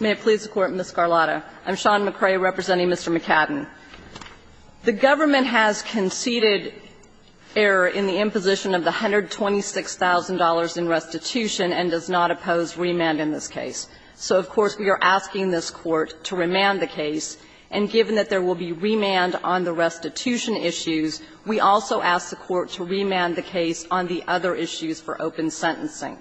May it please the Court, Ms. Garlotta. I'm Sean McCrae representing Mr. McCadden. The government has conceded error in the imposition of the $126,000 in restitution and does not oppose remand in this case. So, of course, we are asking this Court to remand the case. And given that there will be remand on the restitution issues, we also ask the Court to remand the case on the other issues for open sentencing.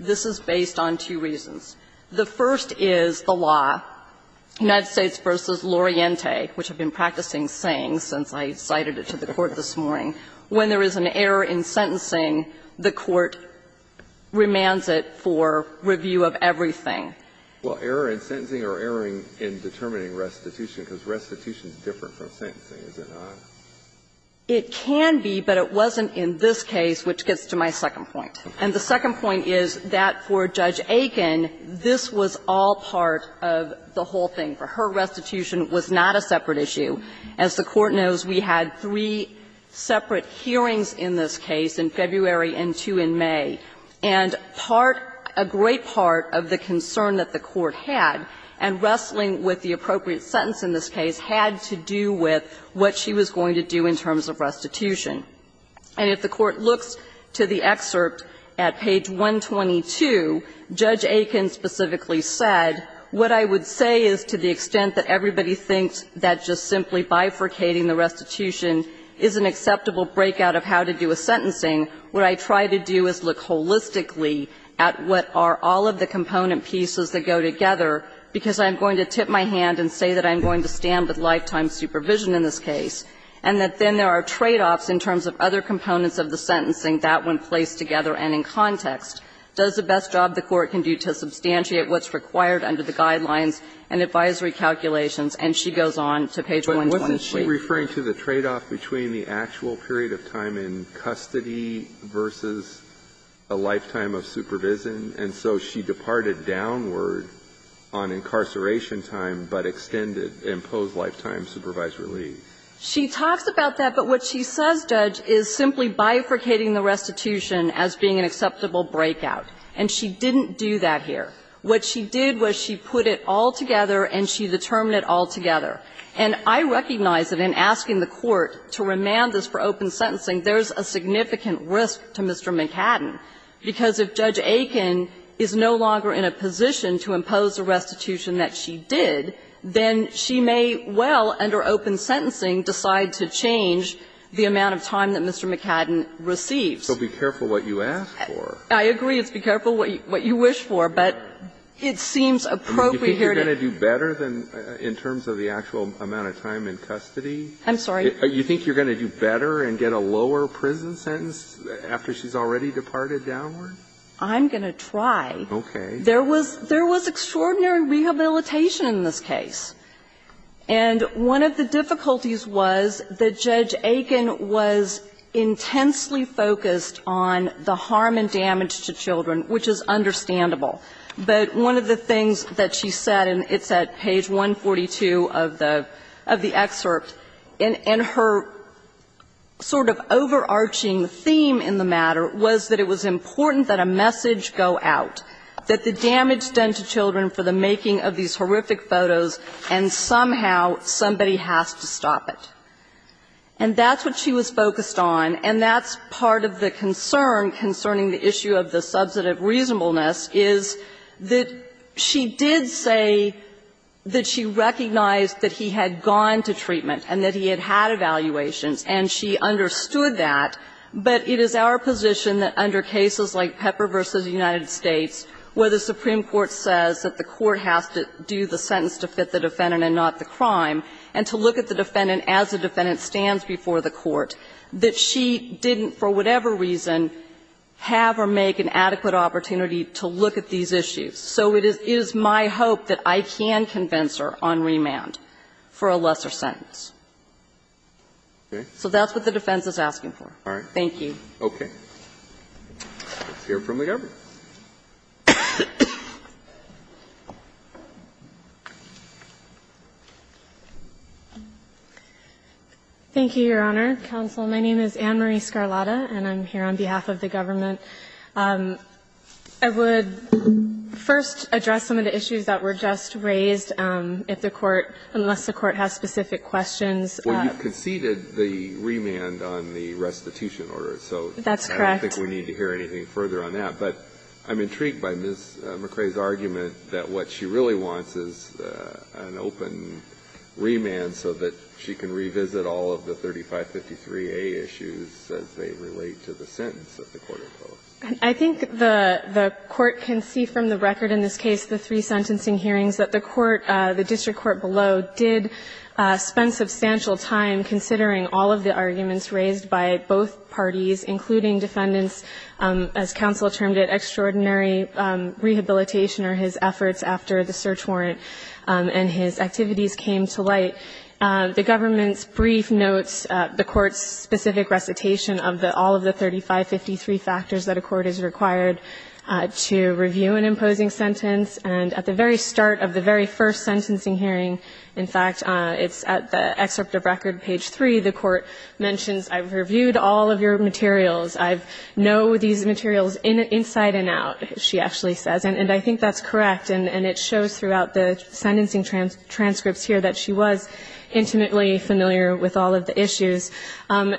This is based on two reasons. The first is the law, United States v. Loriente, which I've been practicing saying since I cited it to the Court this morning. When there is an error in sentencing, the Court remands it for review of everything. Well, error in sentencing or error in determining restitution, because restitution is different from sentencing, is it not? It can be, but it wasn't in this case, which gets to my second point. And the second point is that for Judge Aiken, this was all part of the whole thing. Her restitution was not a separate issue. As the Court knows, we had three separate hearings in this case in February and two in May. And part, a great part of the concern that the Court had, and wrestling with the appropriate sentence in this case, had to do with what she was going to do in terms of restitution. And if the Court looks to the excerpt at page 122, Judge Aiken specifically said, what I would say is to the extent that everybody thinks that just simply bifurcating the restitution is an acceptable breakout of how to do a sentencing, what I try to do is look holistically at what are all of the component pieces that go together, because I'm going to tip my hand and say that I'm going to stand with you in terms of other components of the sentencing that, when placed together and in context, does the best job the Court can do to substantiate what's required under the guidelines and advisory calculations, and she goes on to page 123. But wasn't she referring to the tradeoff between the actual period of time in custody versus a lifetime of supervision? And so she departed downward on incarceration time, but extended, imposed lifetime supervisory leave. She talks about that, but what she says, Judge, is simply bifurcating the restitution as being an acceptable breakout, and she didn't do that here. What she did was she put it all together and she determined it all together. And I recognize that in asking the Court to remand this for open sentencing, there's a significant risk to Mr. McCadden, because if Judge Aiken is no longer in a position to impose a restitution that she did, then she may well, under open sentencing, decide to change the amount of time that Mr. McCadden receives. So be careful what you ask for. I agree, it's be careful what you wish for, but it seems appropriate here to do. Do you think you're going to do better in terms of the actual amount of time in custody? I'm sorry? Do you think you're going to do better and get a lower prison sentence after she's already departed downward? I'm going to try. Okay. There was extraordinary rehabilitation in this case. And one of the difficulties was that Judge Aiken was intensely focused on the harm and damage to children, which is understandable. But one of the things that she said, and it's at page 142 of the excerpt, and her sort of overarching theme in the matter was that it was important that a message go out, that the damage done to children for the making of these horrific photos and somehow somebody has to stop it. And that's what she was focused on, and that's part of the concern concerning the issue of the subset of reasonableness, is that she did say that she recognized that he had gone to treatment and that he had had evaluations, and she understood that, but it is our position that under cases like Pepper v. United States, that the court has to do the sentence to fit the defendant and not the crime, and to look at the defendant as the defendant stands before the court, that she didn't, for whatever reason, have or make an adequate opportunity to look at these issues. So it is my hope that I can convince her on remand for a lesser sentence. So that's what the defense is asking for. Okay. Let's hear from the government. Thank you, Your Honor. Counsel, my name is Anne Marie Scarlata, and I'm here on behalf of the government. I would first address some of the issues that were just raised, if the Court, unless the Court has specific questions. Well, you conceded the remand on the restitution order, so I don't think we need to hear anything further on that. But I'm intrigued by Ms. McRae's argument that what she really wants is an open remand so that she can revisit all of the 3553A issues as they relate to the sentence that the Court imposed. I think the Court can see from the record in this case, the three sentencing hearings, that the Court, the district court below, did spend substantial time considering all of the arguments raised by both parties, including defendants as counsel termed it, extraordinary rehabilitation or his efforts after the search warrant and his activities came to light. The government's brief notes, the Court's specific recitation of all of the 3553 factors that a court is required to review an imposing sentence, and at the very start of the very first sentencing hearing, in fact, it's at the excerpt of record page 3, the Court mentions, I've reviewed all of your materials. I know these materials inside and out, she actually says, and I think that's correct. And it shows throughout the sentencing transcripts here that she was intimately familiar with all of the issues.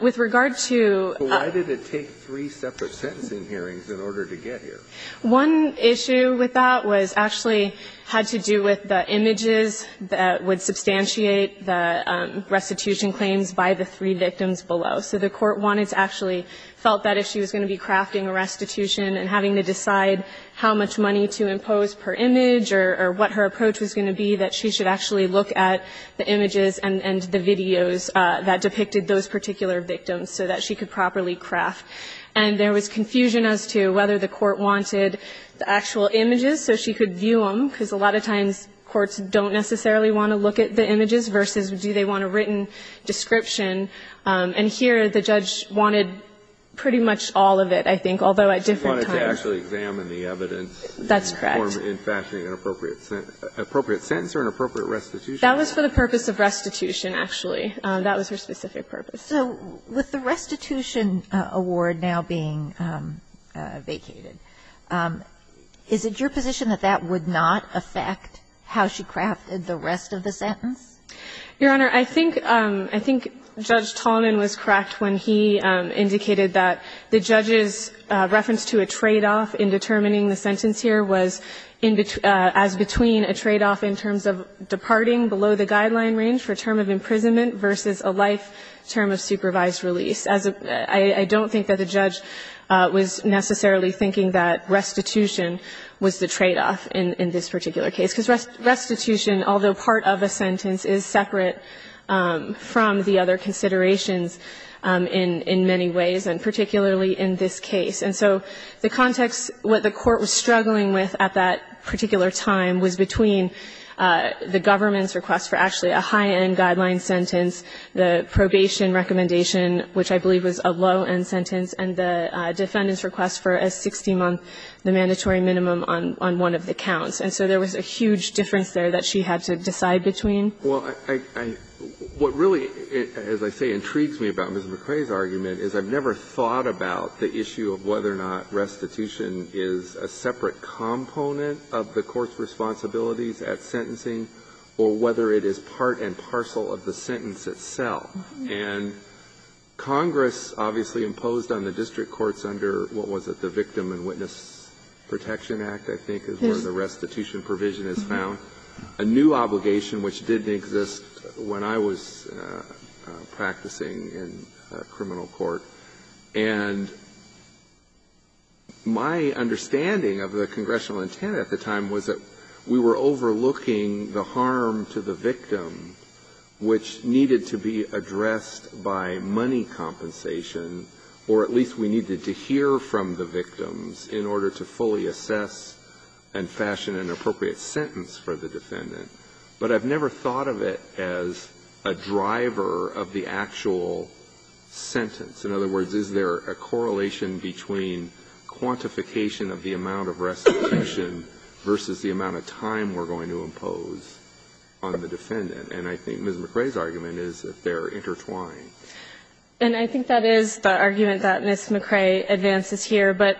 With regard to the other two, why did it take three separate sentencing hearings in order to get here? One issue with that was actually had to do with the images that would substantiate the restitution claims by the three victims below. So the court wanted to actually felt that if she was going to be crafting a restitution and having to decide how much money to impose per image or what her approach was going to be, that she should actually look at the images and the videos that depicted those particular victims so that she could properly craft. And there was confusion as to whether the court wanted the actual images so she could view them, because a lot of times courts don't necessarily want to look at the images versus do they want a written description. And here the judge wanted pretty much all of it, I think, although at different Kennedy, she wanted to actually examine the evidence in fashioning an appropriate sentence or an appropriate restitution. That was for the purpose of restitution, actually. That was her specific purpose. So with the restitution award now being vacated, is it your position that that would not affect how she crafted the rest of the sentence? Your Honor, I think Judge Tallman was correct when he indicated that the judge's reference to a tradeoff in determining the sentence here was as between a tradeoff in terms of departing below the guideline range for term of imprisonment versus a life term of supervised release. I don't think that the judge was necessarily thinking that restitution was the tradeoff in this particular case. Because restitution, although part of a sentence, is separate from the other considerations in many ways, and particularly in this case. And so the context, what the Court was struggling with at that particular time was between the government's request for actually a high-end guideline sentence, the probation recommendation, which I believe was a low-end sentence, and the defendant's request for a 60-month, the mandatory minimum on one of the counts. And so there was a huge difference there that she had to decide between. Well, I – what really, as I say, intrigues me about Ms. McRae's argument is I've never thought about the issue of whether or not restitution is a separate component of the Court's responsibilities at sentencing or whether it is part and parcel of the sentence itself. And Congress obviously imposed on the district courts under, what was it, the Victim and Witness Protection Act, I think is where the restitution provision is found, a new obligation which didn't exist when I was practicing in a criminal court. And my understanding of the congressional intent at the time was that we were overlooking the harm to the victim which needed to be addressed by money compensation, or at least we needed to hear from the victims in order to fully assess and fashion an appropriate sentence for the defendant. But I've never thought of it as a driver of the actual sentence. In other words, is there a correlation between quantification of the amount of restitution versus the amount of time we're going to impose on the defendant? And I think Ms. McRae's argument is that they're intertwined. And I think that is the argument that Ms. McRae advances here. But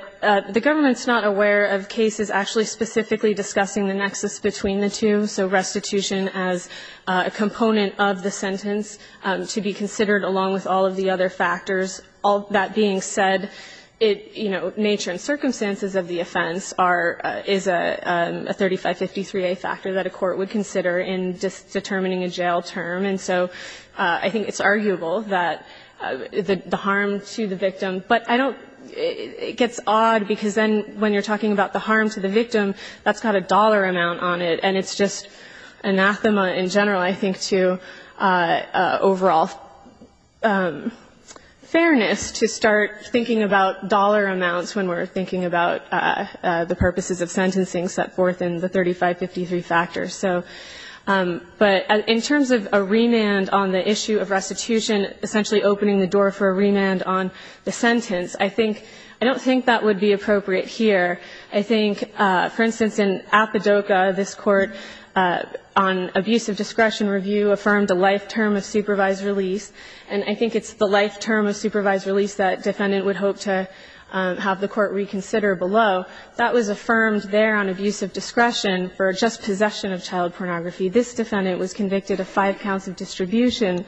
the government's not aware of cases actually specifically discussing the nexus between the two, so restitution as a component of the sentence to be considered along with all of the other factors. All that being said, it, you know, nature and circumstances of the offense are – is a 3553a factor that a court would consider in determining a jail term. And so I think it's arguable that the harm to the victim – but I don't – it gets odd because then when you're talking about the harm to the victim, that's got a dollar amount on it. And it's just anathema in general, I think, to overall fairness to start thinking about dollar amounts when we're thinking about the purposes of sentencing set forth in the 3553 factor. So – but in terms of a remand on the issue of restitution, essentially opening the door for a remand on the sentence, I think – I don't think that would be appropriate here. I think, for instance, in Apodoca, this Court on Abusive Discretion Review affirmed a life term of supervised release. And I think it's the life term of supervised release that a defendant would hope to have the Court reconsider below. So that was affirmed there on abusive discretion for just possession of child pornography. This defendant was convicted of five counts of distribution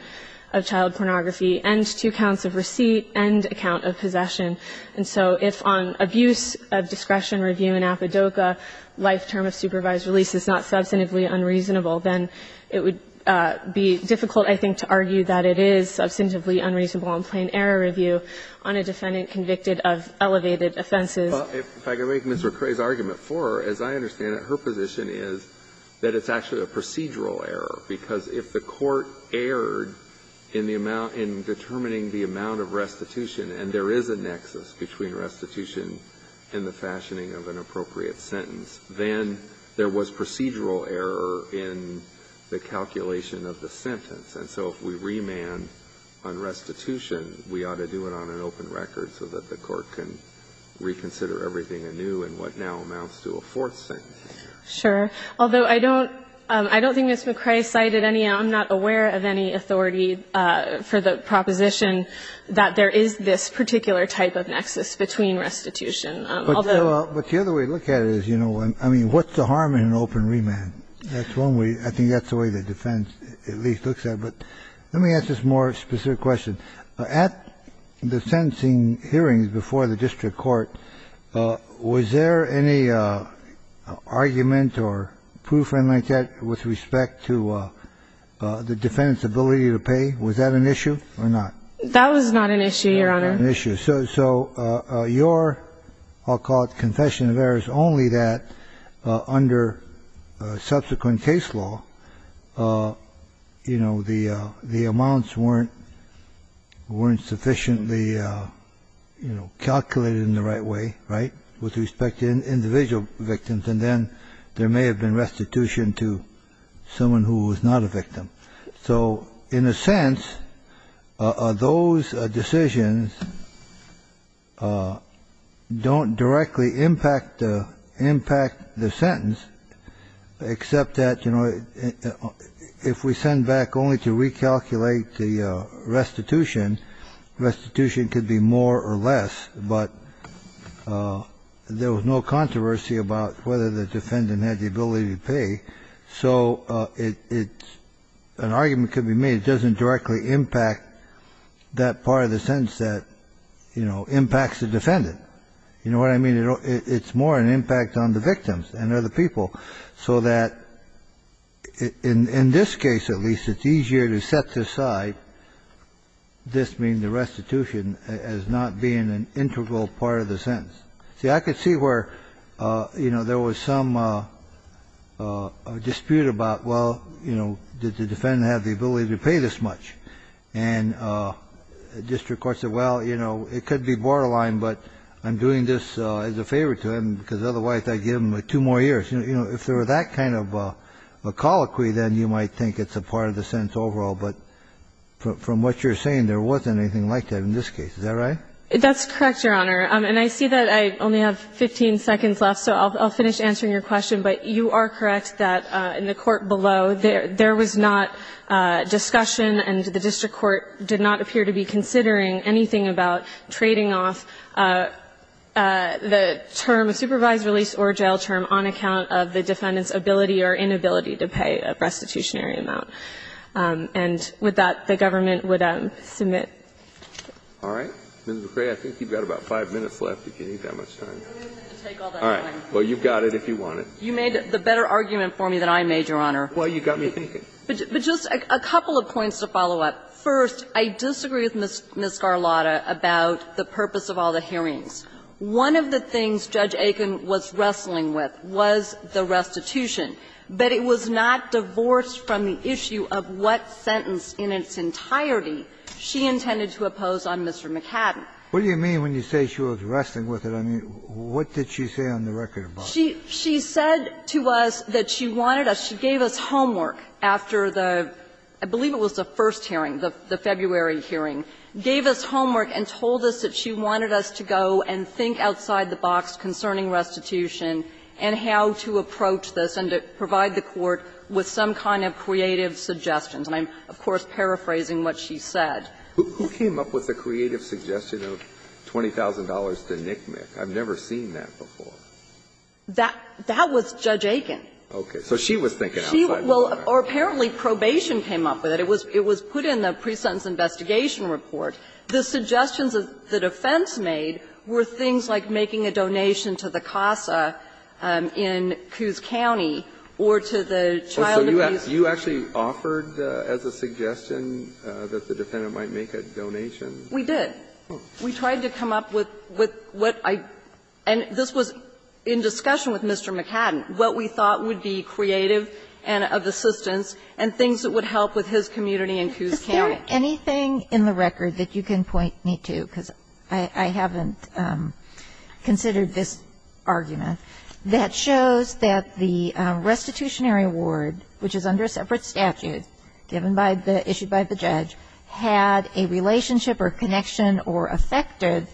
of child pornography and two counts of receipt and a count of possession. And so if on abuse of discretion review in Apodoca, life term of supervised release is not substantively unreasonable, then it would be difficult, I think, to argue that it is substantively unreasonable on plain error review on a defendant convicted of elevated offenses. If I could make Mr. Cray's argument for her, as I understand it, her position is that it's actually a procedural error, because if the court erred in the amount – in determining the amount of restitution, and there is a nexus between restitution and the fashioning of an appropriate sentence, then there was procedural error in the calculation of the sentence. And so if we remand on restitution, we ought to do it on an open record so that the court can reconsider everything anew in what now amounts to a fourth sentence. Sure. Although, I don't – I don't think Ms. McCrae cited any – I'm not aware of any authority for the proposition that there is this particular type of nexus between restitution, although – But the other way to look at it is, you know, I mean, what's the harm in an open remand? That's one way – I think that's the way the defense at least looks at it. But let me ask this more specific question. At the sentencing hearings before the district court, was there any argument or proof or anything like that with respect to the defendant's ability to pay? Was that an issue or not? That was not an issue, Your Honor. Not an issue. So – so your – I'll call it confession of errors only that under subsequent case law, you know, the amounts weren't – weren't sufficiently, you know, calculated in the right way, right, with respect to individual victims. And then there may have been restitution to someone who was not a victim. So in a sense, those decisions don't directly impact the – impact the sentence except that, you know, if we send back only to recalculate the restitution, restitution could be more or less, but there was no controversy about whether the defendant had the ability to pay. So it – it – an argument could be made. It doesn't directly impact that part of the sentence that, you know, impacts the defendant. You know what I mean? It's more an impact on the victims and other people so that in – in this case, at least, it's easier to set aside this being the restitution as not being an integral part of the sentence. See, I could see where, you know, there was some dispute about, well, you know, did the defendant have the ability to pay this much? And district courts said, well, you know, it could be borderline, but I'm doing this as a favor to him because otherwise I'd give him two more years. You know, if there were that kind of a colloquy, then you might think it's a part of the sentence overall. But from what you're saying, there wasn't anything like that in this case. Is that right? That's correct, Your Honor. And I see that I only have 15 seconds left, so I'll finish answering your question. But you are correct that in the court below, there – there was not discussion and the district court did not appear to be considering anything about trading off the term, the supervised release or jail term, on account of the defendant's ability or inability to pay a restitutionary amount. And with that, the government would submit. All right. Ms. McCrae, I think you've got about 5 minutes left if you need that much time. All right. Well, you've got it if you want it. You made the better argument for me than I made, Your Honor. Well, you got me thinking. But just a couple of points to follow up. First, I disagree with Ms. Scarlatta about the purpose of all the hearings. One of the things Judge Aiken was wrestling with was the restitution. But it was not divorced from the issue of what sentence in its entirety she intended to oppose on Mr. McCadden. What do you mean when you say she was wrestling with it? I mean, what did she say on the record about it? She said to us that she wanted us – she gave us homework after the – I believe it was the first hearing, the February hearing – gave us homework and told us that she wanted us to go and think outside the box concerning restitution and how to approach this and to provide the Court with some kind of creative suggestions. And I'm, of course, paraphrasing what she said. Who came up with the creative suggestion of $20,000 to NCMEC? I've never seen that before. That was Judge Aiken. Okay. So she was thinking outside the box. Well, apparently probation came up with it. It was put in the pre-sentence investigation report. The suggestions the defense made were things like making a donation to the CASA in Coos County or to the child abuse. So you actually offered as a suggestion that the defendant might make a donation? We did. We tried to come up with what I – and this was in discussion with Mr. McCadden what we thought would be creative and of assistance and things that would help with his community in Coos County. Is there anything in the record that you can point me to? Because I haven't considered this argument. That shows that the restitutionary award, which is under a separate statute given by the – issued by the judge, had a relationship or connection or affected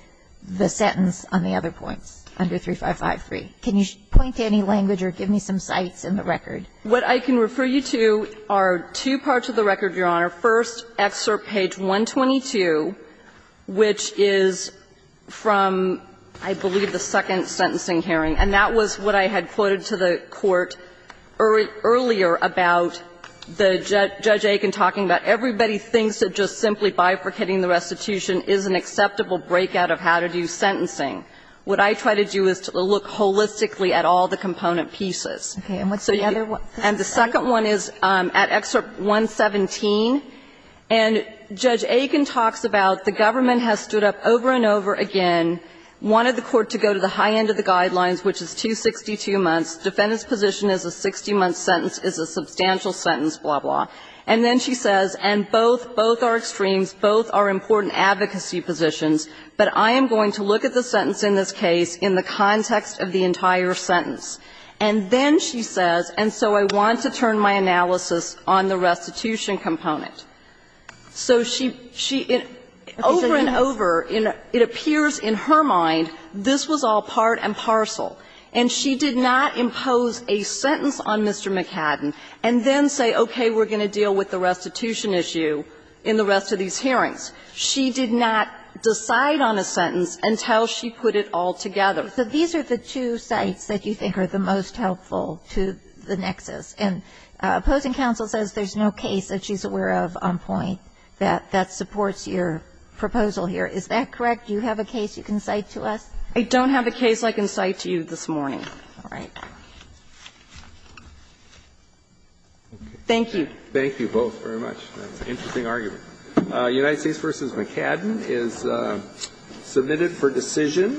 the sentence on the other points under 3553. Can you point to any language or give me some sites in the record? What I can refer you to are two parts of the record, Your Honor. First, excerpt page 122, which is from, I believe, the second sentencing hearing. And that was what I had quoted to the Court earlier about the – Judge Aiken talking about everybody thinks that just simply bifurcating the restitution is an acceptable breakout of how to do sentencing. What I try to do is to look holistically at all the component pieces. Okay. And what's the other one? And the second one is at excerpt 117. And Judge Aiken talks about the government has stood up over and over again, wanted the Court to go to the high end of the guidelines, which is 262 months. Defendant's position is a 60-month sentence is a substantial sentence, blah, blah. And then she says, and both – both are extremes, both are important advocacy positions, but I am going to look at the sentence in this case in the context of the entire sentence. And then she says, and so I want to turn my analysis on the restitution component. So she – she – over and over, it appears in her mind this was all part and parcel. And she did not impose a sentence on Mr. McAdam and then say, okay, we're going to deal with the restitution issue in the rest of these hearings. She did not decide on a sentence until she put it all together. So these are the two sites that you think are the most helpful to the nexus. And opposing counsel says there's no case that she's aware of on point that – that supports your proposal here. Is that correct? Do you have a case you can cite to us? I don't have a case I can cite to you this morning. All right. Thank you. Thank you both very much. That's an interesting argument. United States v. McAdam is submitted for decision.